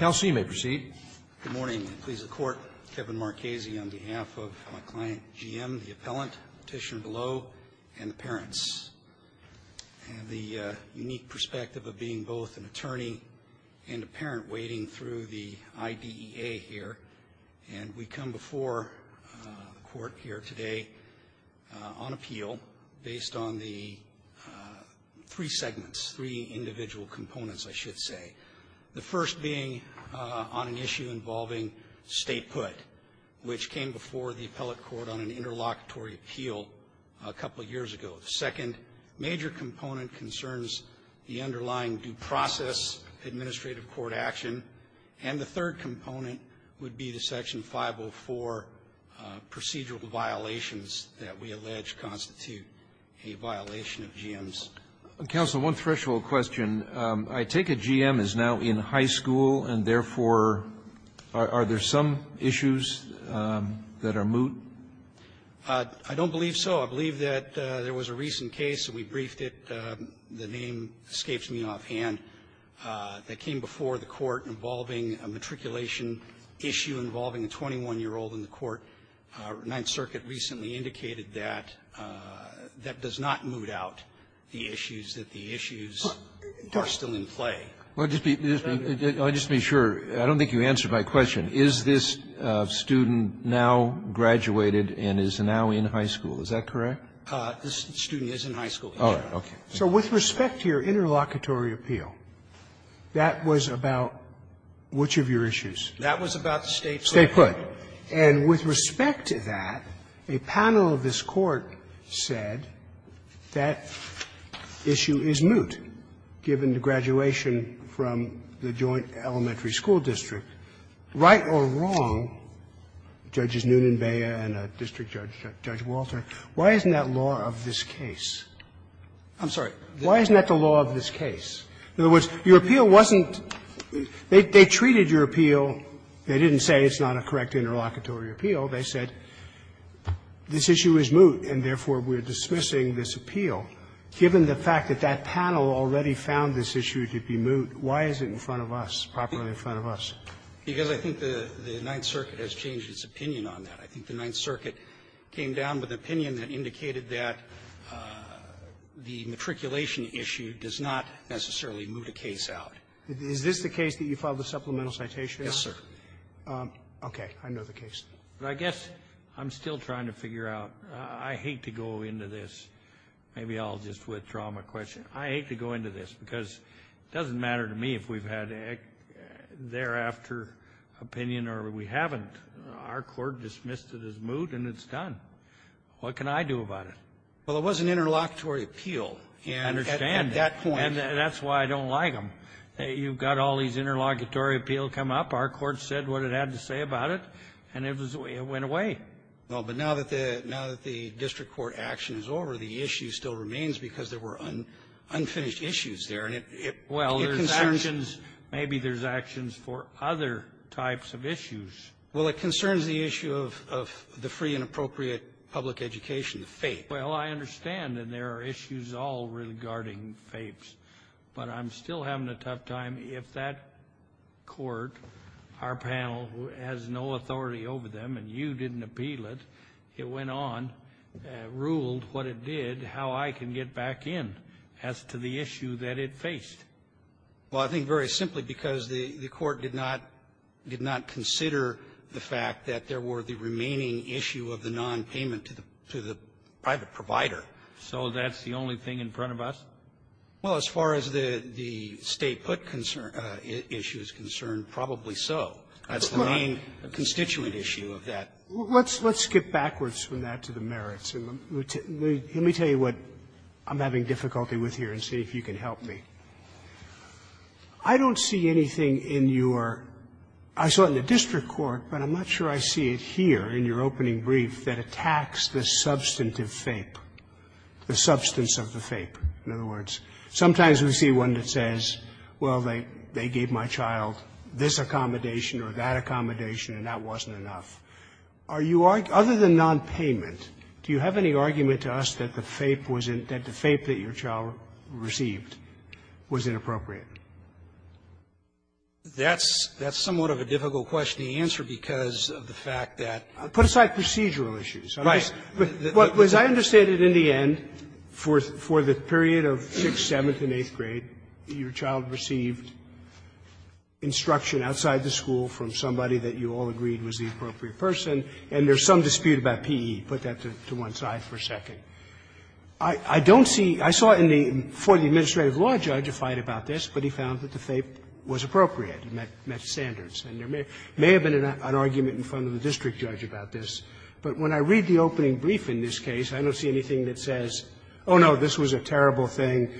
Good morning. I'm pleased to report Kevin Marchese on behalf of my client, GM, the appellant, petitioner below, and the parents. I have the unique perspective of being both an attorney and a parent wading through the IDEA here, and we come before the Court here today on the three segments, three individual components, I should say. The first being on an issue involving statehood, which came before the appellate court on an interlocutory appeal a couple of years ago. The second major component concerns the underlying due process administrative court action. And the third component would be the Section 504 procedural violations that we allege constitute a violation of GM's. Roberts. Counsel, one threshold question. I take it GM is now in high school, and, therefore, are there some issues that are moot? I don't believe so. I believe that there was a recent case, and we briefed it, the name escapes me offhand, that came before the Court involving a matriculation issue involving a 21-year-old in the court. Ninth Circuit recently indicated that that does not moot out the issues, that the issues are still in play. I'll just be sure. I don't think you answered my question. Is this student now graduated and is now in high school? Is that correct? This student is in high school. All right. Okay. So with respect to your interlocutory appeal, that was about which of your issues? That was about the State's law. Statehood. And with respect to that, a panel of this Court said that issue is moot, given the graduation from the Joint Elementary School District. Right or wrong, Judges Noonan, Bea, and District Judge Walter, why isn't that law of this case? I'm sorry. Why isn't that the law of this case? In other words, your appeal wasn't they treated your appeal, they didn't say it's not a correct interlocutory appeal. They said this issue is moot, and therefore, we're dismissing this appeal. Given the fact that that panel already found this issue to be moot, why is it in front of us, properly in front of us? Because I think the Ninth Circuit has changed its opinion on that. I think the Ninth Circuit came down with an opinion that indicated that the matriculation issue does not necessarily moot a case out. Is this the case that you filed a supplemental citation? Yes, sir. Okay. I know the case. But I guess I'm still trying to figure out. I hate to go into this. Maybe I'll just withdraw my question. I hate to go into this, because it doesn't matter to me if we've had a thereafter opinion or we haven't. Our Court dismissed it as moot, and it's done. What can I do about it? Well, it was an interlocutory appeal. And at that point And that's why I don't like them. You've got all these interlocutory appeals come up. Our Court said what it had to say about it, and it went away. Well, but now that the district court action is over, the issue still remains because there were unfinished issues there, and it concerns you. Well, maybe there's actions for other types of issues. Well, it concerns the issue of the free and appropriate public education, the FAPE. Well, I understand, and there are issues all regarding FAPEs. But I'm still having a tough time. If that Court, our panel, has no authority over them, and you didn't appeal it, it went on, ruled what it did, how I can get back in as to the issue that it faced. Well, I think very simply because the Court did not consider the fact that there were the remaining issue of the nonpayment to the private provider. So that's the only thing in front of us? Well, as far as the State put concern issues are concerned, probably so. That's the main constituent issue of that. Let's skip backwards from that to the merits. Let me tell you what I'm having difficulty with here and see if you can help me. I don't see anything in your – I saw it in the district court, but I'm not sure I see it here in your opening brief that attacks the substantive FAPE, the substance of the FAPE. In other words, sometimes we see one that says, well, they gave my child this accommodation or that accommodation, and that wasn't enough. Are you – other than nonpayment, do you have any argument to us that the FAPE was in – that the FAPE that your child received was inappropriate? That's somewhat of a difficult question to answer because of the fact that – Put aside procedural issues. Right. But as I understand it, in the end, for the period of 6th, 7th, and 8th grade, your child received instruction outside the school from somebody that you all agreed was the appropriate person, and there's some dispute about P.E. Put that to one side for a second. I don't see – I saw in the – for the administrative law judge a fight about this, but he found that the FAPE was appropriate, met standards. And there may have been an argument in front of the district judge about this, but when I read the opening brief in this case, I don't see anything that says, oh, no, this was a terrible thing,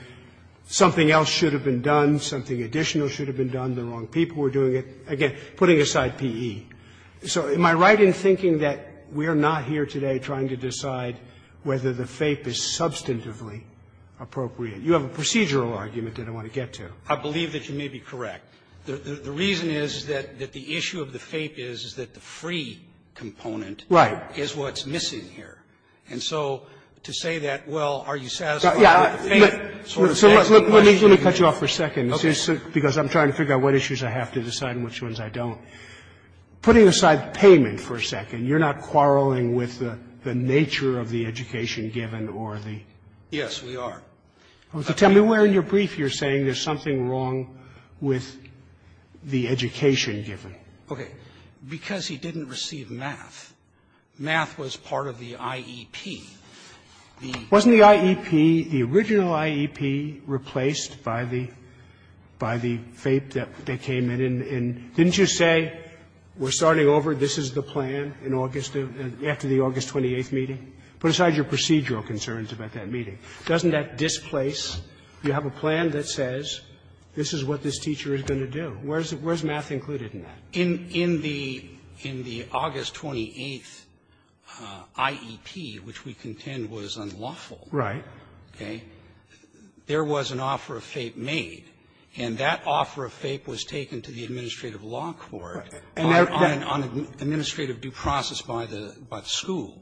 something else should have been done, something additional should have been done, the wrong people were doing it, again, putting aside P.E. So am I right in thinking that we are not here today trying to decide whether the FAPE is substantively appropriate? You have a procedural argument that I want to get to. I believe that you may be correct. The reason is that the issue of the FAPE is that the free component is what the FAPE is, and that's what's missing here. And so to say that, well, are you satisfied with the FAPE sort of thing is a question Sotomayor, let me cut you off for a second, because I'm trying to figure out what issues I have to decide and which ones I don't. Putting aside payment for a second, you're not quarreling with the nature of the education given or the – Yes, we are. Tell me where in your brief you're saying there's something wrong with the education given. Okay. Because he didn't receive math, math was part of the IEP. Wasn't the IEP, the original IEP, replaced by the – by the FAPE that came in? And didn't you say we're starting over, this is the plan in August, after the August 28th meeting? Put aside your procedural concerns about that meeting. Doesn't that displace? You have a plan that says this is what this teacher is going to do. Where's math included in that? In the – in the August 28th IEP, which we contend was unlawful. Right. Okay. There was an offer of FAPE made, and that offer of FAPE was taken to the administrative law court on an administrative due process by the school.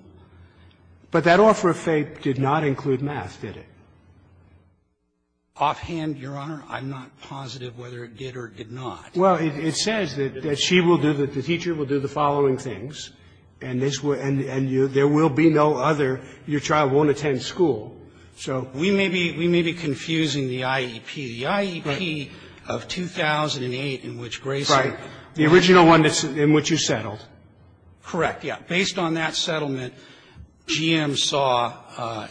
But that offer of FAPE did not include math, did it? Offhand, Your Honor, I'm not positive whether it did or did not. Well, it says that she will do – that the teacher will do the following things, and this will – and there will be no other – your child won't attend school. So we may be – we may be confusing the IEP. The IEP of 2008 in which Gray said – Right. The original one in which you settled. Correct, yeah. Based on that settlement, GM saw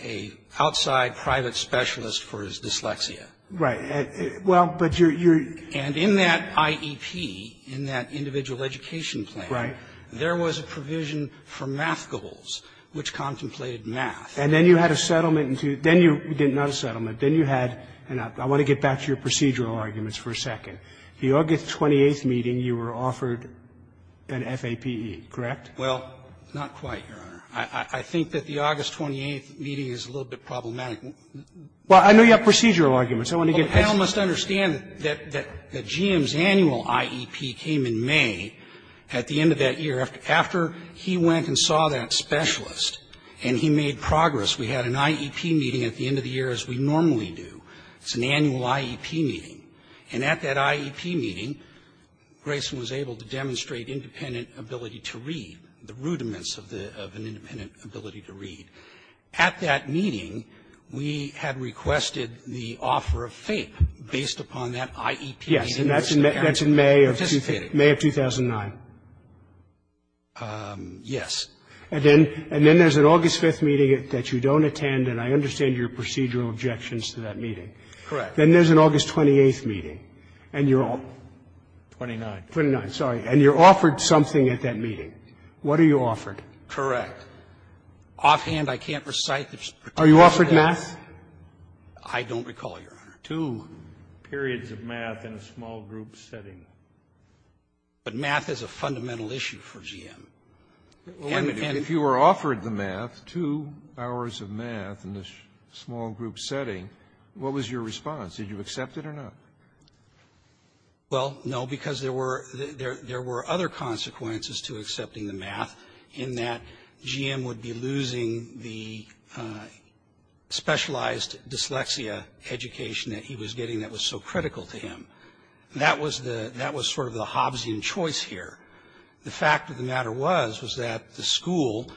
a outside private specialist for his dyslexia. Right. Well, but you're – you're – The IEP in that individual education plan, there was a provision for math goals, which contemplated math. And then you had a settlement into – then you – not a settlement. Then you had – and I want to get back to your procedural arguments for a second. The August 28th meeting, you were offered an FAPE, correct? Well, not quite, Your Honor. I think that the August 28th meeting is a little bit problematic. I want to get past that. You all must understand that GM's annual IEP came in May at the end of that year after he went and saw that specialist, and he made progress. We had an IEP meeting at the end of the year, as we normally do. It's an annual IEP meeting. And at that IEP meeting, Grayson was able to demonstrate independent ability to read, the rudiments of the – of an independent ability to read. At that meeting, we had requested the offer of FAPE based upon that IEP meeting that was there. Participated. May of 2009. Yes. And then – and then there's an August 5th meeting that you don't attend, and I understand your procedural objections to that meeting. Correct. Then there's an August 28th meeting, and you're all – 29. 29, sorry. And you're offered something at that meeting. What are you offered? Correct. Offhand, I can't recite the particular date. Are you offered math? I don't recall, Your Honor. Two periods of math in a small-group setting. But math is a fundamental issue for GM. And if you were offered the math, two hours of math in a small-group setting, what was your response? Did you accept it or not? Well, no, because there were – there were other consequences to accepting the math in that GM would be losing the specialized dyslexia education that he was getting that was so critical to him. That was the – that was sort of the Hobbesian choice here. The fact of the matter was, was that the school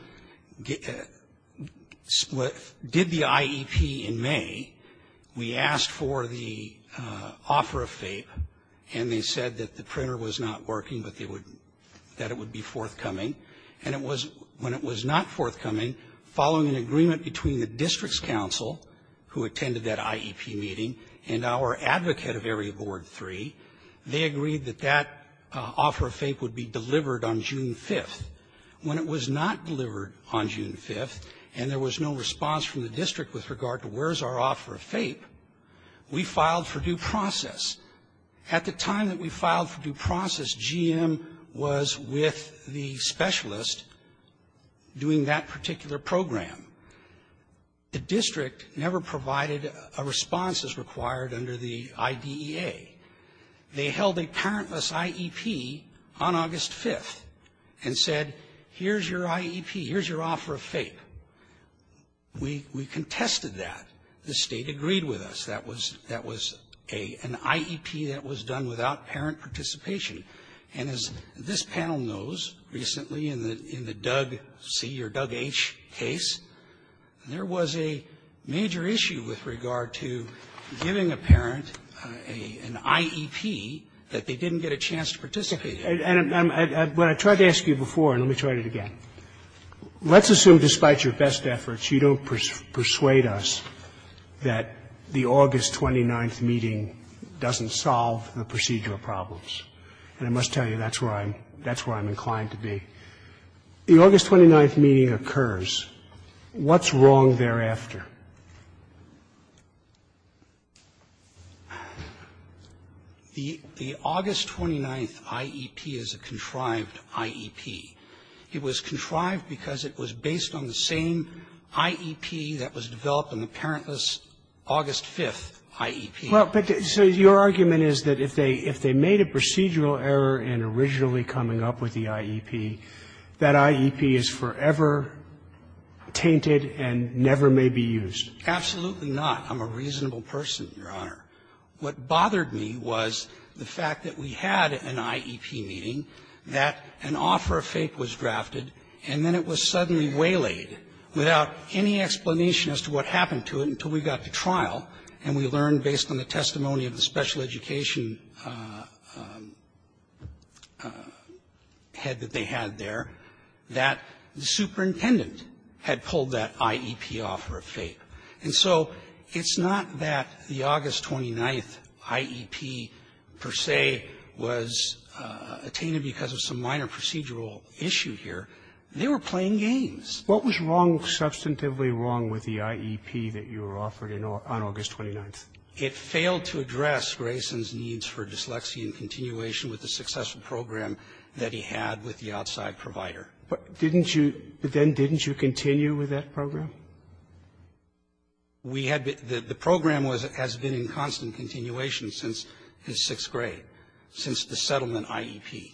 split – did the IEP in May. We asked for the offer of FAPE, and they said that the printer was not working, but they would – that it would be forthcoming. And it was – when it was not forthcoming, following an agreement between the district's counsel, who attended that IEP meeting, and our advocate of Area Board 3, they agreed that that offer of FAPE would be delivered on June 5th. When it was not delivered on June 5th, and there was no response from the district with regard to where's our offer of FAPE, we filed for due process. At the time that we filed for due process, GM was with the specialist doing that particular program. The district never provided a response as required under the IDEA. They held a parentless IEP on August 5th and said, here's your IEP, here's your offer of FAPE. We – we contested that. The State agreed with us. That was – that was a – an IEP that was done without parent participation. And as this panel knows, recently in the – in the Doug C. or Doug H. case, there was a major issue with regard to giving a parent a – an IEP that they didn't get a chance to participate in. And I'm – when I tried to ask you before, and let me try it again, let's assume that despite your best efforts, you don't persuade us that the August 29th meeting doesn't solve the procedural problems. And I must tell you, that's where I'm – that's where I'm inclined to be. The August 29th meeting occurs. What's wrong thereafter? The – the August 29th IEP is a contrived IEP. It was contrived because it was based on the same IEP that was developed in the parentless August 5th IEP. Roberts. Roberts. Well, but so your argument is that if they – if they made a procedural error in originally coming up with the IEP, that IEP is forever tainted and never may be used. Absolutely not. I'm a reasonable person, Your Honor. What bothered me was the fact that we had an IEP meeting, that an offer of FAPE was drafted, and then it was suddenly waylaid without any explanation as to what happened to it until we got to trial, and we learned based on the testimony of the special education head that they had there, that the superintendent had pulled that IEP offer of FAPE. And so it's not that the August 29th IEP, per se, was tainted because of some minor procedural issue here. They were playing games. What was wrong, substantively wrong, with the IEP that you were offered on August 29th? It failed to address Grayson's needs for dyslexia and continuation with the successful program that he had with the outside provider. But didn't you – but then didn't you continue with that program? We had been – the program was – has been in constant continuation since his sixth grade, since the settlement IEP.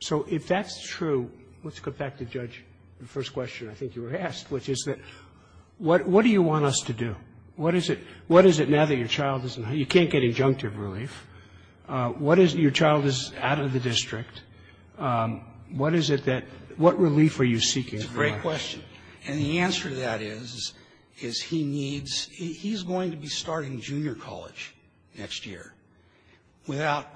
So if that's true, let's go back to Judge, the first question I think you were asked, which is that what do you want us to do? What is it – what is it now that your child isn't – you can't get injunctive relief. What is – your child is out of the district. What is it that – what relief are you seeking? It's a great question. And the answer to that is, is he needs – he's going to be starting junior college next year without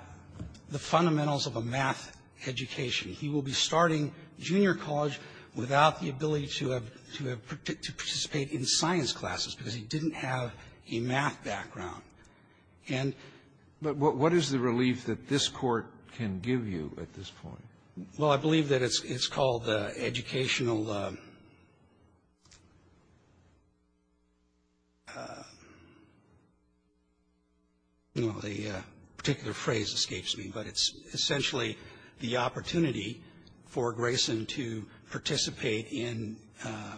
the fundamentals of a math education. He will be starting junior college without the ability to have – to participate in science classes because he didn't have a math background. And – But what is the relief that this Court can give you at this point? Well, I believe that it's called educational – the particular phrase escapes me, but it's essentially the opportunity for Grayson to participate in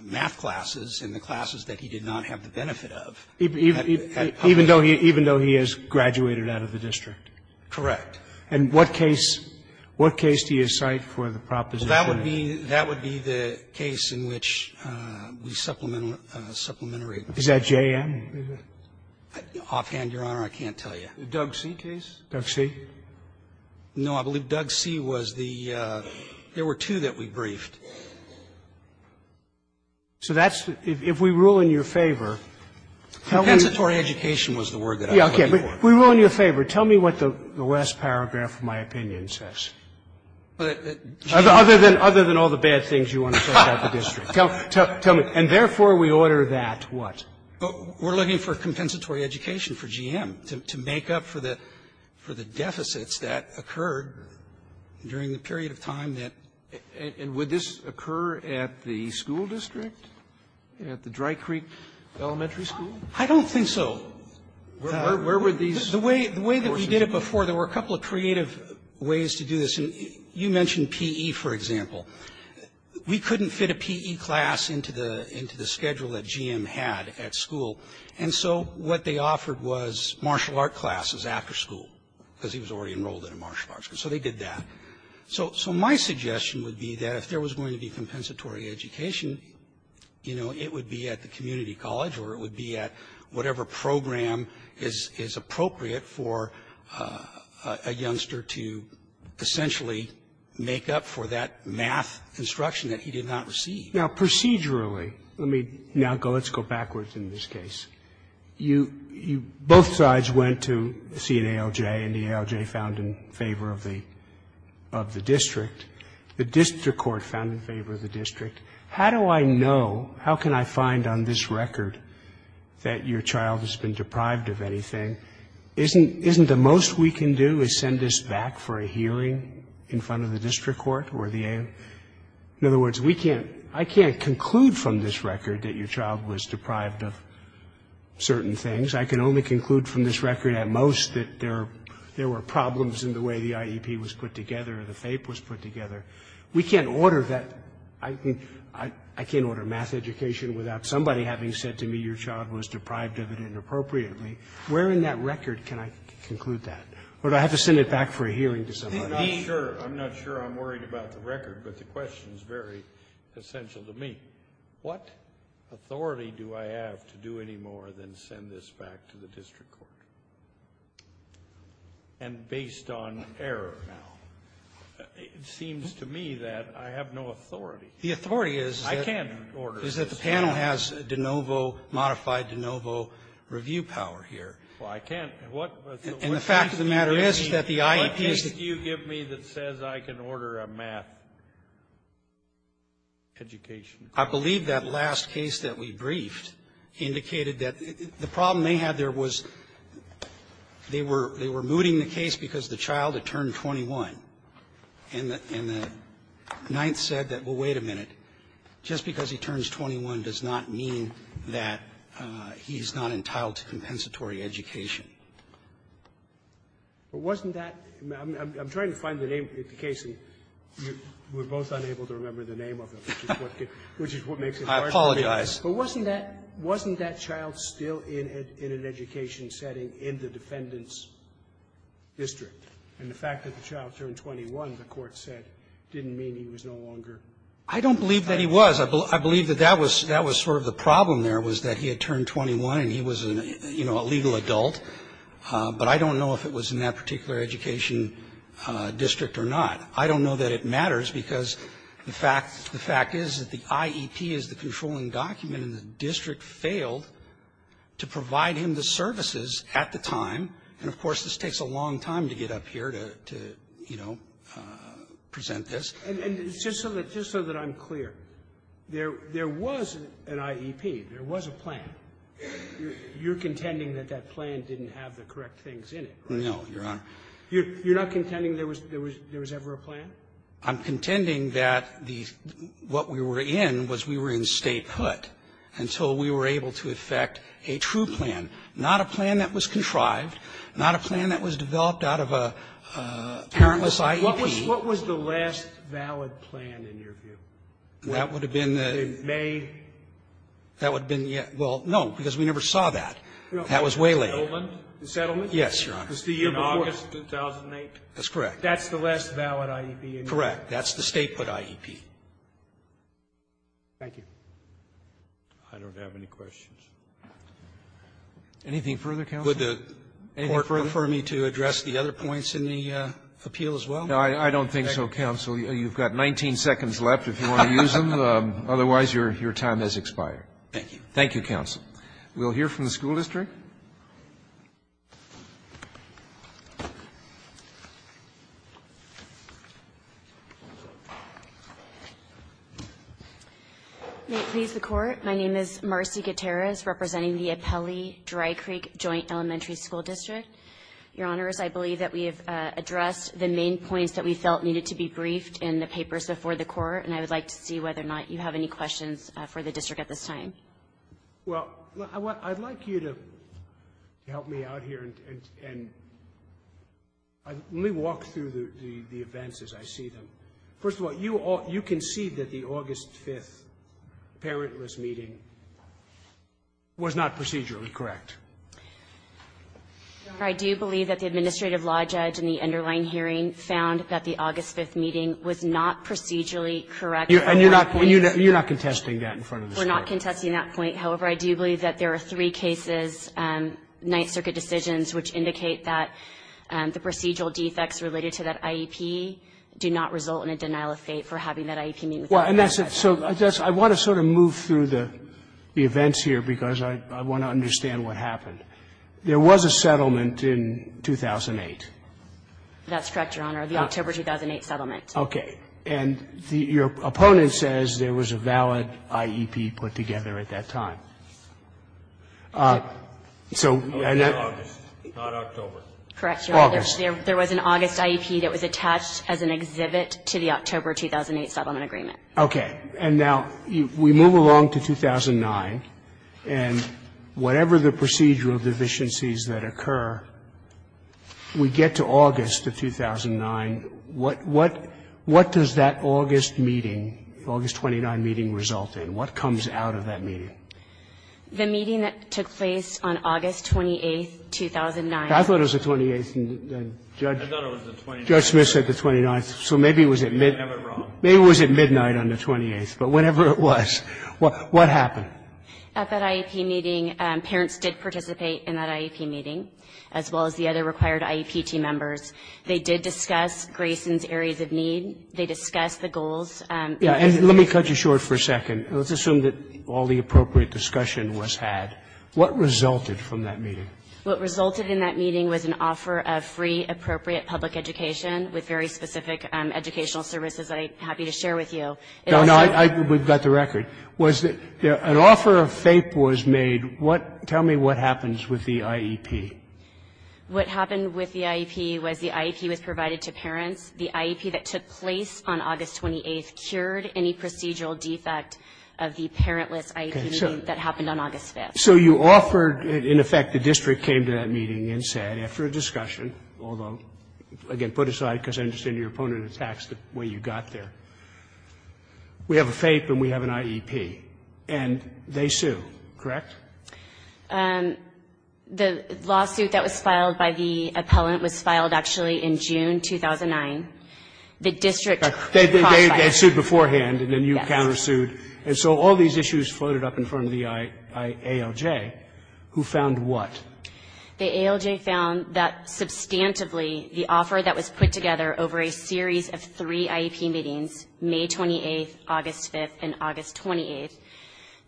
math classes in the classes that he did not have the benefit of. Even though he – even though he has graduated out of the district? Correct. And what case – what case do you cite for the proposition? That would be – that would be the case in which we supplement – supplementary relief. Is that JM? Offhand, Your Honor, I can't tell you. The Doug C. case? Doug C.? No, I believe Doug C. was the – there were two that we briefed. So that's – if we rule in your favor, tell me – Compensatory education was the word that I looked for. Yeah, okay. But we rule in your favor. Tell me what the last paragraph of my opinion says, other than – other than all the bad things you want to say about the district. Tell me. And therefore, we order that what? We're looking for compensatory education for JM to make up for the – for the deficits that occurred during the period of time that – and would this occur at the school district, at the Dry Creek Elementary School? I don't think so. Where were these portions of it? The way that we did it before, there were a couple of creative ways to do this. And you mentioned P.E., for example. We couldn't fit a P.E. class into the – into the schedule that JM had at school. And so what they offered was martial art classes after school, because he was already enrolled in a martial arts – so they did that. So my suggestion would be that if there was going to be compensatory education, you know, it would be at the community college or it would be at whatever program is – is appropriate for a youngster to essentially make up for that math instruction that he did not receive. Now, procedurally, let me now go – let's go backwards in this case. You – you – both sides went to see an ALJ, and the ALJ found in favor of the – of the district. The district court found in favor of the district. How do I know – how can I find on this record that your child has been deprived of anything? Isn't – isn't the most we can do is send this back for a hearing in front of the district court or the ALJ? In other words, we can't – I can't conclude from this record that your child was deprived of certain things. I can only conclude from this record at most that there – there were problems in the way the IEP was put together or the FAPE was put together. We can't order that – I can't order math education without somebody having said to me your child was deprived of it inappropriately. Where in that record can I conclude that? Or do I have to send it back for a hearing to somebody? I'm not sure. I'm not sure I'm worried about the record, but the question is very essential to me. What authority do I have to do any more than send this back to the district court? And based on error now, it seems to me that I have no authority. The authority is that the panel has de novo – modified de novo review power here. Well, I can't – what – And the fact of the matter is that the IEP is – What case do you give me that says I can order a math education? I believe that last case that we briefed indicated that the problem they had there was they were – they were mooting the case because the child had turned 21. And the – and the Ninth said that, well, wait a minute. Just because he turns 21 does not mean that he's not entitled to compensatory education. But wasn't that – I'm trying to find the name of the case, and we're both unable to remember the name of it, which is what makes it hard for me. I apologize. But wasn't that – wasn't that child still in an education setting in the defendant's district? And the fact that the child turned 21, the Court said, didn't mean he was no longer – I don't believe that he was. I believe that that was – that was sort of the problem there, was that he had turned 21, and he was, you know, a legal adult. But I don't know if it was in that particular education district or not. I don't know that it matters, because the fact – the fact is that the IEP is the controlling document, and the district failed to provide him the services at the time. And of course, this takes a long time to get up here to, you know, present this. And just so that – just so that I'm clear, there was an IEP. There was a plan. You're contending that that plan didn't have the correct things in it, right? No, Your Honor. You're not contending there was – there was ever a plan? I'm contending that the – what we were in was we were in statehood until we were able to effect a true plan, not a plan that was contrived, not a plan that was developed out of a parentless IEP. What was – what was the last valid plan, in your view? That would have been the – In May? That would have been – well, no, because we never saw that. That was way later. Settlement? Settlement? Yes, Your Honor. Was the year before? In August of 2008? That's correct. That's the last valid IEP in your view? Correct. That's the statehood IEP. Thank you. I don't have any questions. Anything further, counsel? Would the Court prefer me to address the other points in the appeal as well? No, I don't think so, counsel. You've got 19 seconds left if you want to use them. Otherwise, your time has expired. Thank you. Thank you, counsel. We'll hear from the school district. May it please the Court, my name is Marcy Gutierrez, representing the Apelli-Dry Creek Joint Elementary School District. Your Honors, I believe that we have addressed the main points that we felt needed to be briefed in the papers before the Court, and I would like to see whether or not you have any questions for the district at this time. Well, I'd like you to help me out here and let me walk through the events as I see them. First of all, you concede that the August 5th parentless meeting was not procedurally correct. I do believe that the administrative law judge in the underlying hearing found that the August 5th meeting was not procedurally correct. And you're not contesting that in front of the school? No, we're not contesting that point. However, I do believe that there are three cases, Ninth Circuit decisions, which indicate that the procedural defects related to that IEP do not result in a denial of fate for having that IEP meet with that parent. So I want to sort of move through the events here because I want to understand what happened. There was a settlement in 2008. That's correct, Your Honor, the October 2008 settlement. Okay. And your opponent says there was a valid IEP put together at that time. So and that's the August, not October. Correct, Your Honor. August. There was an August IEP that was attached as an exhibit to the October 2008 settlement agreement. Okay. And now we move along to 2009, and whatever the procedural deficiencies that occur, we get to August of 2009. What does that August meeting, August 29 meeting result in? What comes out of that meeting? The meeting that took place on August 28, 2009. I thought it was the 28th. I thought it was the 29th. Judge Smith said the 29th. So maybe it was at midnight. Maybe I have it wrong. Maybe it was at midnight on the 28th. But whatever it was, what happened? At that IEP meeting, parents did participate in that IEP meeting, as well as the other required IEP team members. They did discuss Grayson's areas of need. They discussed the goals. And let me cut you short for a second. Let's assume that all the appropriate discussion was had. What resulted from that meeting? What resulted in that meeting was an offer of free, appropriate public education with very specific educational services that I'm happy to share with you. No, no, we've got the record. An offer of FAPE was made. Tell me what happens with the IEP. What happened with the IEP was the IEP was provided to parents. The IEP that took place on August 28 cured any procedural defect of the parentless IEP meeting that happened on August 5. So you offered, in effect, the district came to that meeting and said, after a discussion, although, again, put aside, because I understand your opponent attacks the way you got there, we have a FAPE and we have an IEP. And they sue, correct? The lawsuit that was filed by the appellant was filed, actually, in June 2009. The district cross-filed it. They sued beforehand, and then you counter-sued. And so all these issues floated up in front of the ALJ, who found what? The ALJ found that, substantively, the offer that was put together over a series of three IEP meetings, May 28, August 5, and August 28,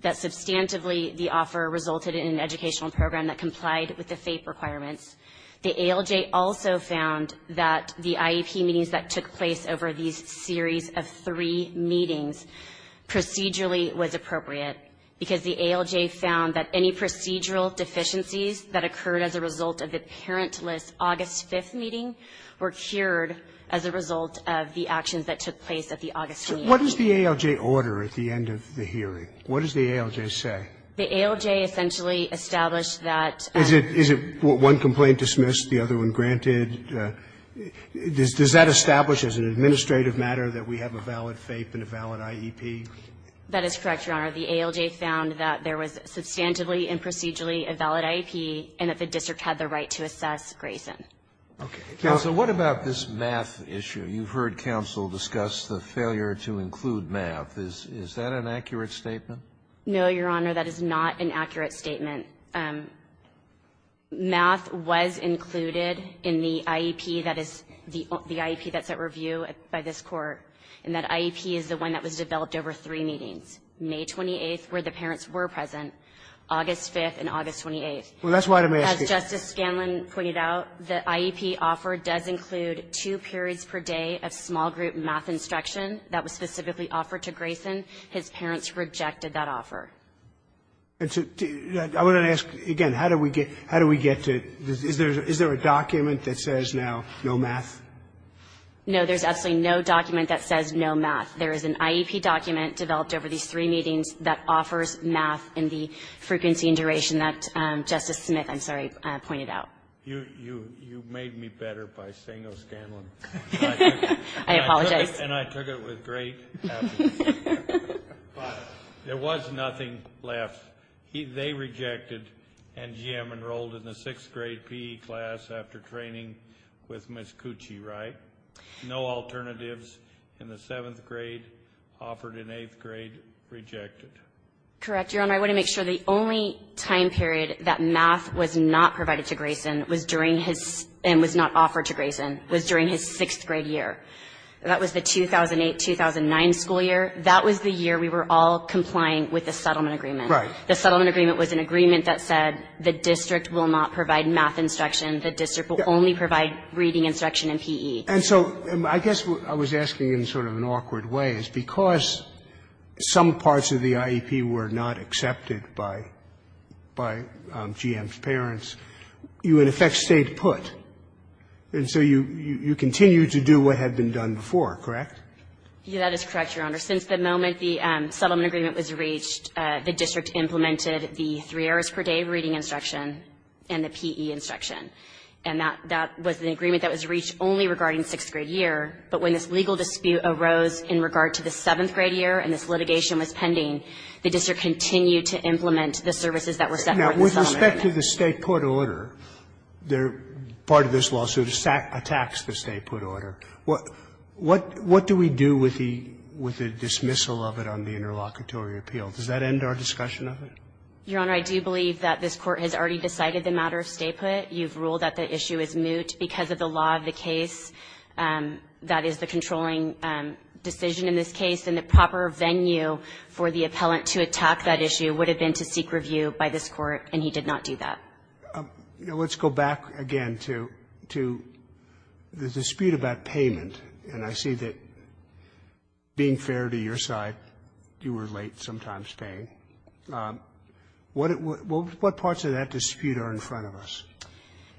that, substantively, the offer resulted in an educational program that complied with the FAPE requirements. The ALJ also found that the IEP meetings that took place over these series of three meetings procedurally was appropriate because the ALJ found that any procedural deficiencies that occurred as a result of the parentless August 5 meeting were cured as a result of the actions that took place at the August 28 meeting. So what does the ALJ order at the end of the hearing? What does the ALJ say? The ALJ essentially established that the ALJ found that there was substantively and procedurally a valid IEP, and that the district had the right to assess Grayson. That is correct, Your Honor. The ALJ found that there was substantively and procedurally a valid IEP, and that the district had the right to assess Grayson. Okay. Counsel, what about this math issue? You've heard counsel discuss the failure to include math. Is that an accurate statement? No, Your Honor, that is not an accurate statement. Math was included in the IEP that is the IEP that's at review by this Court, and that IEP is the one that was developed over three meetings, May 28th, where the parents were present, August 5th, and August 28th. Well, that's why the math issue As Justice Scanlon pointed out, the IEP offer does not include two periods per day of small-group math instruction that was specifically offered to Grayson. His parents rejected that offer. I want to ask, again, how do we get to the Is there a document that says now no math? No, there's absolutely no document that says no math. There is an IEP document developed over these three meetings that offers math in the frequency and duration that Justice Smith, I'm sorry, pointed out. You made me better by saying no Scanlon. I apologize. And I took it with great apathy, but there was nothing left. They rejected, and GM enrolled in the 6th grade PE class after training with Ms. Cucci, right? No alternatives in the 7th grade, offered in 8th grade, rejected. Correct, Your Honor, I want to make sure the only time period that math was not provided to Grayson was during his, and was not offered to Grayson, was during his 6th grade year. That was the 2008-2009 school year. That was the year we were all complying with the settlement agreement. Right. The settlement agreement was an agreement that said the district will not provide math instruction. The district will only provide reading instruction in PE. And so I guess what I was asking in sort of an awkward way is because some parts of the you in effect stayed put, and so you continued to do what had been done before, correct? That is correct, Your Honor. Since the moment the settlement agreement was reached, the district implemented the three hours per day reading instruction and the PE instruction. And that was an agreement that was reached only regarding 6th grade year. But when this legal dispute arose in regard to the 7th grade year, and this litigation settlement agreement. Now, with respect to the stay put order, part of this lawsuit attacks the stay put order. What do we do with the dismissal of it on the interlocutory appeal? Does that end our discussion of it? Your Honor, I do believe that this Court has already decided the matter of stay put. You've ruled that the issue is moot because of the law of the case. That is the controlling decision in this case. And the proper venue for the appellant to attack that issue would have been to seek review by this Court, and he did not do that. Let's go back again to the dispute about payment, and I see that, being fair to your side, you were late sometimes paying. What parts of that dispute are in front of us?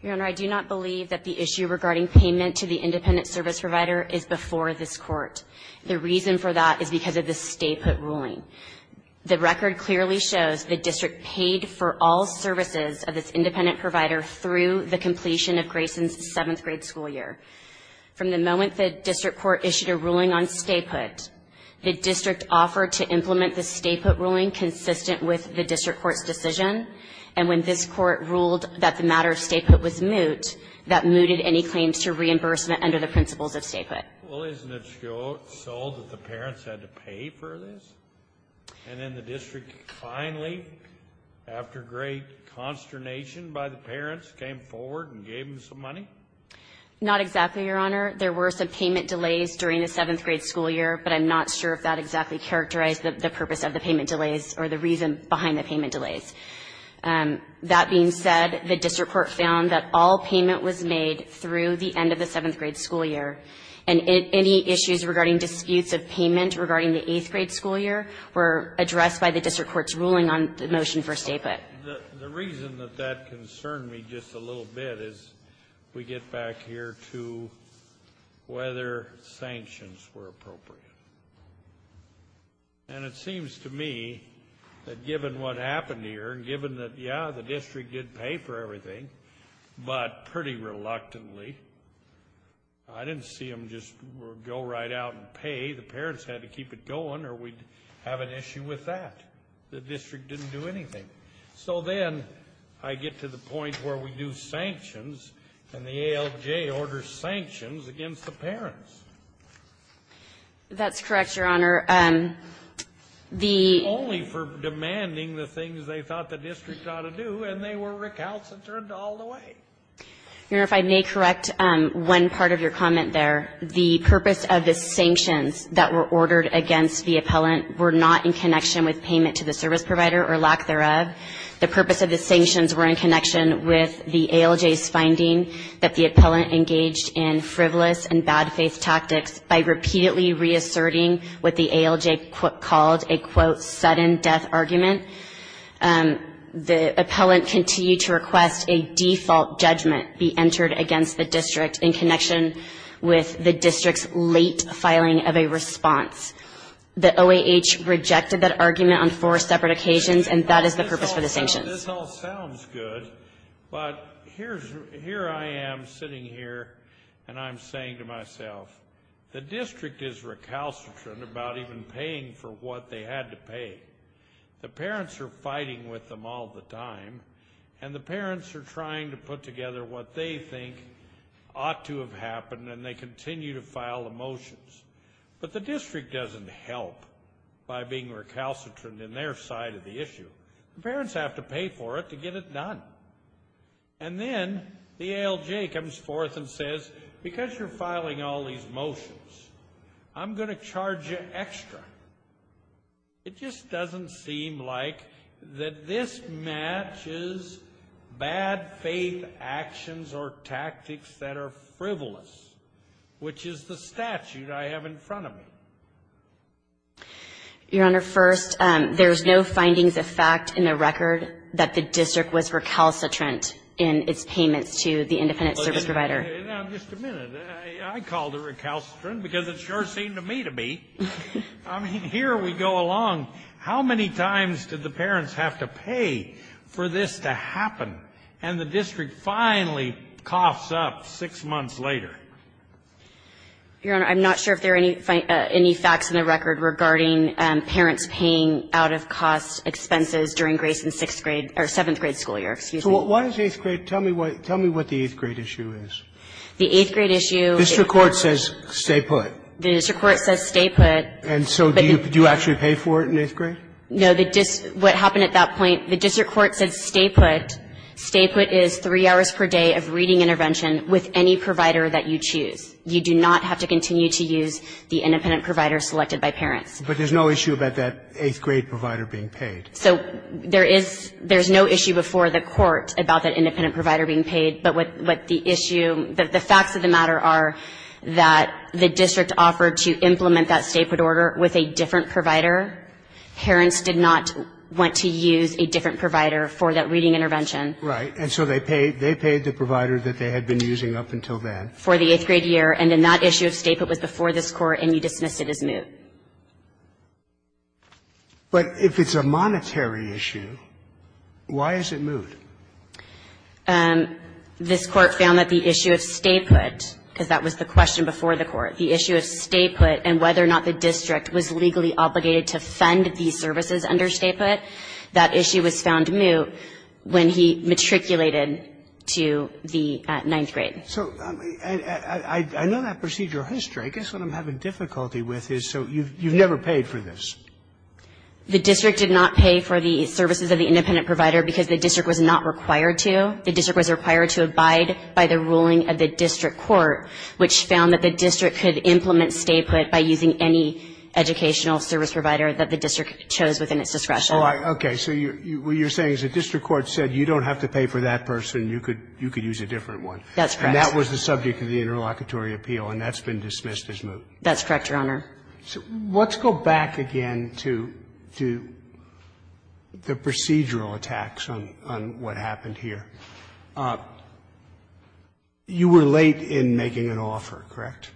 Your Honor, I do not believe that the issue regarding payment to the independent service provider is before this Court. The reason for that is because of the stay put ruling. The record clearly shows the district paid for all services of its independent provider through the completion of Grayson's seventh grade school year. From the moment the district court issued a ruling on stay put, the district offered to implement the stay put ruling consistent with the district court's decision, and when this Court ruled that the matter of stay put was moot, that mooted any claims to reimbursement under the principles of stay put. Well, isn't it so that the parents had to pay for this? And then the district finally, after great consternation by the parents, came forward and gave them some money? Not exactly, Your Honor. There were some payment delays during the seventh grade school year, but I'm not sure if that exactly characterized the purpose of the payment delays or the reason behind the payment delays. That being said, the district court found that all payment was made through the end of the seventh grade school year, and any issues regarding disputes of payment regarding the eighth grade school year were addressed by the district court's ruling on the motion for stay put. The reason that that concerned me just a little bit is we get back here to whether sanctions were appropriate. And it seems to me that given what happened here, given that, yeah, the district did pay for everything, but pretty reluctantly, I didn't see them just go right out and pay. The parents had to keep it going, or we'd have an issue with that. The district didn't do anything. So then I get to the point where we do sanctions, and the ALJ orders sanctions against the parents. That's correct, Your Honor. Only for demanding the things they thought the district ought to do, and they were recalcitrant all the way. Your Honor, if I may correct one part of your comment there. The purpose of the sanctions that were ordered against the appellant were not in connection with payment to the service provider, or lack thereof. The purpose of the sanctions were in connection with the ALJ's finding that the appellant engaged in frivolous and bad faith tactics by repeatedly reasserting what the ALJ called a, quote, sudden death argument. The appellant continued to request a default judgment be entered against the district in connection with the district's late filing of a response. The OAH rejected that argument on four separate occasions, and that is the purpose for the sanctions. This all sounds good, but here I am sitting here, and I'm saying to myself, the district is recalcitrant about even paying for what they had to pay. The parents are fighting with them all the time, and the parents are trying to put together what they think ought to have happened, and they continue to file the motions. But the district doesn't help by being recalcitrant in their side of the issue. The parents have to pay for it to get it done. And then the ALJ comes forth and says, because you're filing all these motions, I'm going to charge you extra. It just doesn't seem like that this matches bad faith actions or tactics that are frivolous, which is the statute I have in front of me. Your Honor, first, there's no findings of fact in the record that the district was recalcitrant in its payments to the independent service provider. Now, just a minute. I called it recalcitrant because it sure seemed to me to be. I mean, here we go along. How many times did the parents have to pay for this to happen? And the district finally coughs up six months later. Your Honor, I'm not sure if there are any facts in the record regarding parents paying out-of-cost expenses during Grace in sixth grade or seventh grade school year. Excuse me. So what is eighth grade? Tell me what the eighth grade issue is. The eighth grade issue is the court says stay put. The district court says stay put. And so do you actually pay for it in eighth grade? No. What happened at that point, the district court said stay put. Stay put is three hours per day of reading intervention with any provider that you choose. You do not have to continue to use the independent provider selected by parents. But there's no issue about that eighth grade provider being paid. So there is no issue before the court about that independent provider being paid. But what the issue, the facts of the matter are that the district offered to implement that stay put order with a different provider. Parents did not want to use a different provider for that reading intervention. Right. And so they paid the provider that they had been using up until then. For the eighth grade year. And then that issue of stay put was before this court and you dismissed it as moot. But if it's a monetary issue, why is it moot? This Court found that the issue of stay put, because that was the question before the court, the issue of stay put and whether or not the district was legally obligated to fund these services under stay put, that issue was found moot when he matriculated to the ninth grade. So I know that procedural history. I guess what I'm having difficulty with is so you've never paid for this. The district did not pay for the services of the independent provider because the district was not required to. The district was required to abide by the ruling of the district court, which found that the district could implement stay put by using any educational service provider that the district chose within its discretion. Okay. So what you're saying is the district court said you don't have to pay for that person. You could use a different one. That's correct. And that was the subject of the interlocutory appeal. And that's been dismissed as moot. That's correct, Your Honor. Let's go back again to the procedural attacks on what happened here. You were late in making an offer, correct?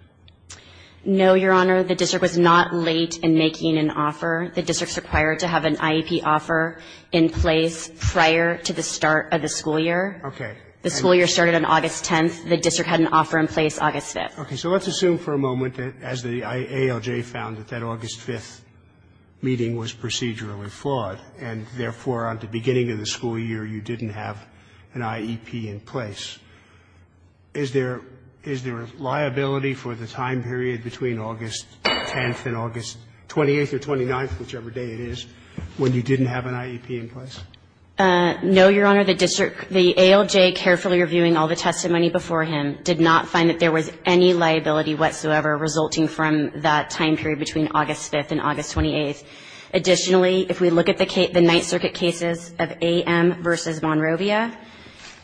No, Your Honor. The district was not late in making an offer. The district's required to have an IEP offer in place prior to the start of the school year. Okay. The school year started on August 10th. The district had an offer in place August 5th. Okay. So let's assume for a moment that as the ALJ found that that August 5th meeting was procedurally flawed, and therefore at the beginning of the school year you didn't have an IEP in place. Is there liability for the time period between August 10th and August 28th or 29th, whichever day it is, when you didn't have an IEP in place? No, Your Honor. The district, the ALJ carefully reviewing all the testimony before him did not find that there was any liability whatsoever resulting from that time period between August 5th and August 28th. Additionally, if we look at the case, the Ninth Circuit cases of A.M. v. Monrovia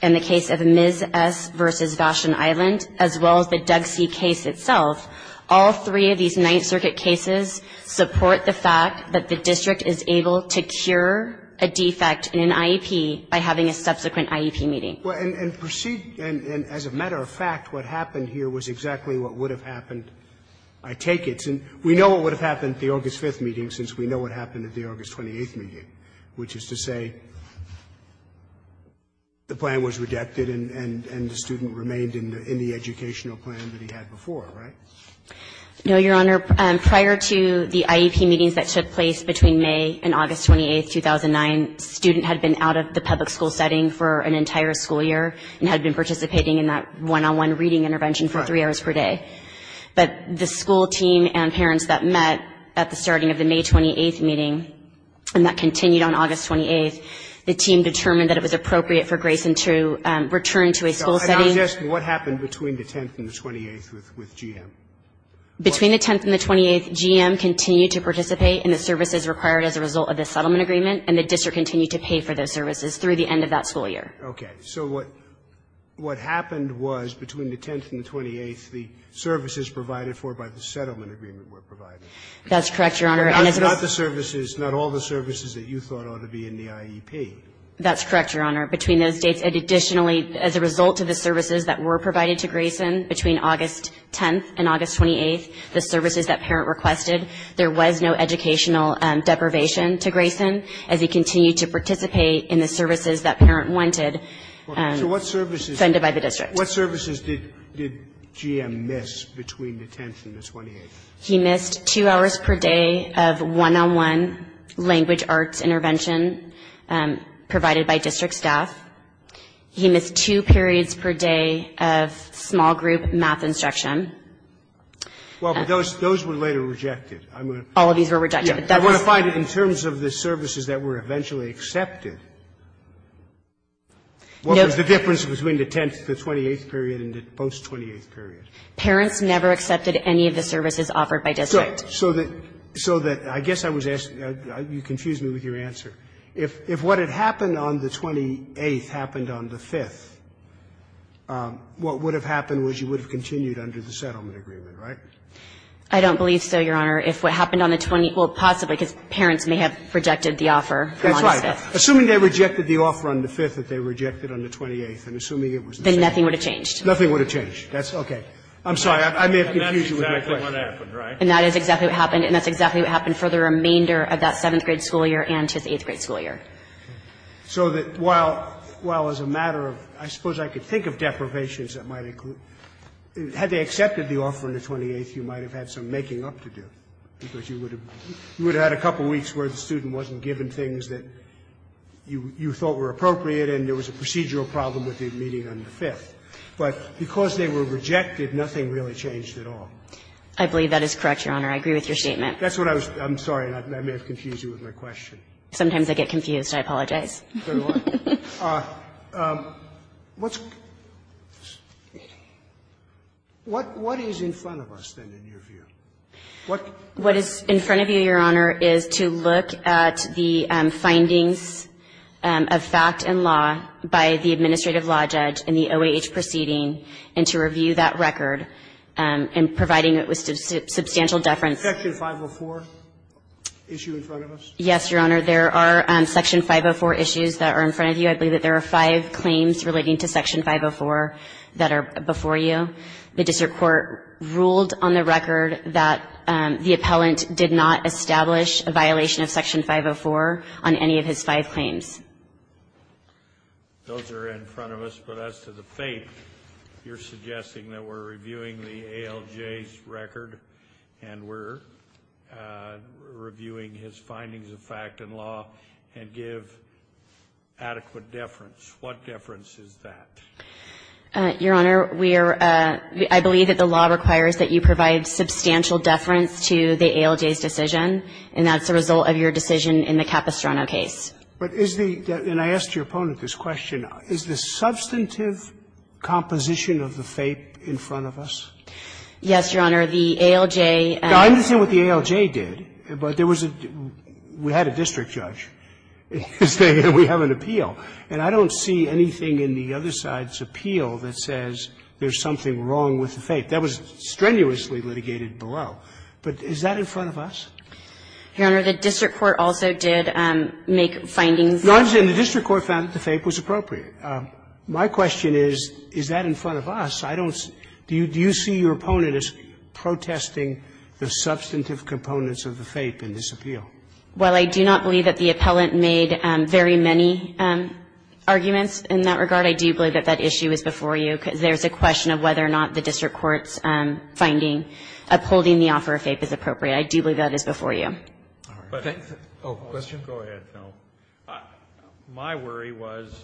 and the case of Ms. S. v. Vashon Island, as well as the Doug C. case itself, all three of these Ninth Circuit cases support the fact that the district is able to cure a defect in an IEP by having a subsequent IEP meeting. Well, and proceed, and as a matter of fact, what happened here was exactly what would have happened, I take it. We know what would have happened at the August 5th meeting since we know what happened at the August 28th meeting, which is to say the plan was rejected and the student remained in the educational plan that he had before, right? No, Your Honor. Prior to the IEP meetings that took place between May and August 28th, 2009, student had been out of the public school setting for an entire school year and had been participating in that one-on-one reading intervention for three hours per day. But the school team and parents that met at the starting of the May 28th meeting and that continued on August 28th, the team determined that it was appropriate for Grayson to return to a school setting. So I'm just asking what happened between the 10th and the 28th with GM? Between the 10th and the 28th, GM continued to participate in the services required as a result of the settlement agreement, and the district continued to pay for those services through the end of that school year. Okay. So what happened was between the 10th and the 28th, the services provided for by the settlement agreement were provided. That's correct, Your Honor. Not the services, not all the services that you thought ought to be in the IEP. That's correct, Your Honor. Between those dates, additionally, as a result of the services that were provided to Grayson between August 10th and August 28th, the services that parent requested, there was no educational deprivation to Grayson as he continued to participate in the services that parent wanted. So what services? Funded by the district. What services did GM miss between the 10th and the 28th? He missed two hours per day of one-on-one language arts intervention provided by district staff. He missed two periods per day of small group math instruction. Well, but those were later rejected. All of these were rejected. I want to find in terms of the services that were eventually accepted, what was the difference between the 10th, the 28th period, and the post-28th period? Parents never accepted any of the services offered by district. So that I guess I was asking you confused me with your answer. If what had happened on the 28th happened on the 5th, what would have happened was you would have continued under the settlement agreement, right? I don't believe so, Your Honor. If what happened on the 20th, well, possibly, because parents may have rejected the offer from on the 5th. That's right. Assuming they rejected the offer on the 5th that they rejected on the 28th and assuming it was the same. Then nothing would have changed. Nothing would have changed. That's okay. I'm sorry. I may have confused you with my question. And that's exactly what happened, right? And that is exactly what happened. And that's exactly what happened for the remainder of that 7th grade school year and his 8th grade school year. So that while as a matter of, I suppose I could think of deprivations that might include, had they accepted the offer on the 28th, you might have had some making up to do. Because you would have had a couple of weeks where the student wasn't given things that you thought were appropriate and there was a procedural problem with the meeting on the 5th. But because they were rejected, nothing really changed at all. I believe that is correct, Your Honor. I agree with your statement. That's what I was going to say. I'm sorry. I may have confused you with my question. Sometimes I get confused. I apologize. What is in front of us, then, in your view? What is in front of you, Your Honor, is to look at the findings of fact and law by the administrative law judge in the OAH proceeding and to review that record and providing it with substantial deference. Section 504 issue in front of us? Yes, Your Honor. There are Section 504 issues that are in front of you. I believe that there are five claims relating to Section 504 that are before you. The district court ruled on the record that the appellant did not establish a violation of Section 504 on any of his five claims. Those are in front of us. But as to the faith, you're suggesting that we're reviewing the ALJ's record and we're reviewing his findings of fact and law and give adequate deference. What deference is that? Your Honor, we are – I believe that the law requires that you provide substantial deference to the ALJ's decision, and that's the result of your decision in the Capistrano case. But is the – and I asked your opponent this question. Is the substantive composition of the faith in front of us? Yes, Your Honor. The ALJ – I understand what the ALJ did, but there was a – we had a district judge. We have an appeal. And I don't see anything in the other side's appeal that says there's something wrong with the faith. That was strenuously litigated below. But is that in front of us? Your Honor, the district court also did make findings. No, I'm saying the district court found that the faith was appropriate. My question is, is that in front of us? I don't – do you see your opponent as protesting the substantive components of the faith in this appeal? Well, I do not believe that the appellant made very many arguments in that regard. I do believe that that issue is before you, because there's a question of whether or not the district court's finding upholding the offer of faith is appropriate. I do believe that is before you. Oh, question? Go ahead. No. My worry was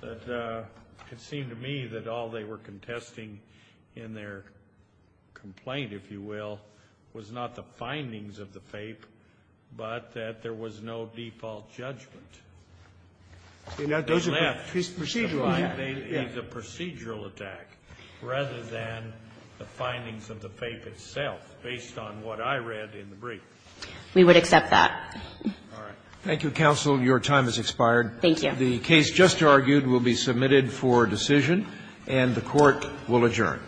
that it seemed to me that all they were contesting in their complaint, if you will, was not the findings of the faith, but that there was no default judgment. And that those are procedural. They left the procedural attack rather than the findings of the faith itself, based on what I read in the brief. We would accept that. All right. Thank you, counsel. Your time has expired. Thank you. The case just argued will be submitted for decision, and the Court will adjourn.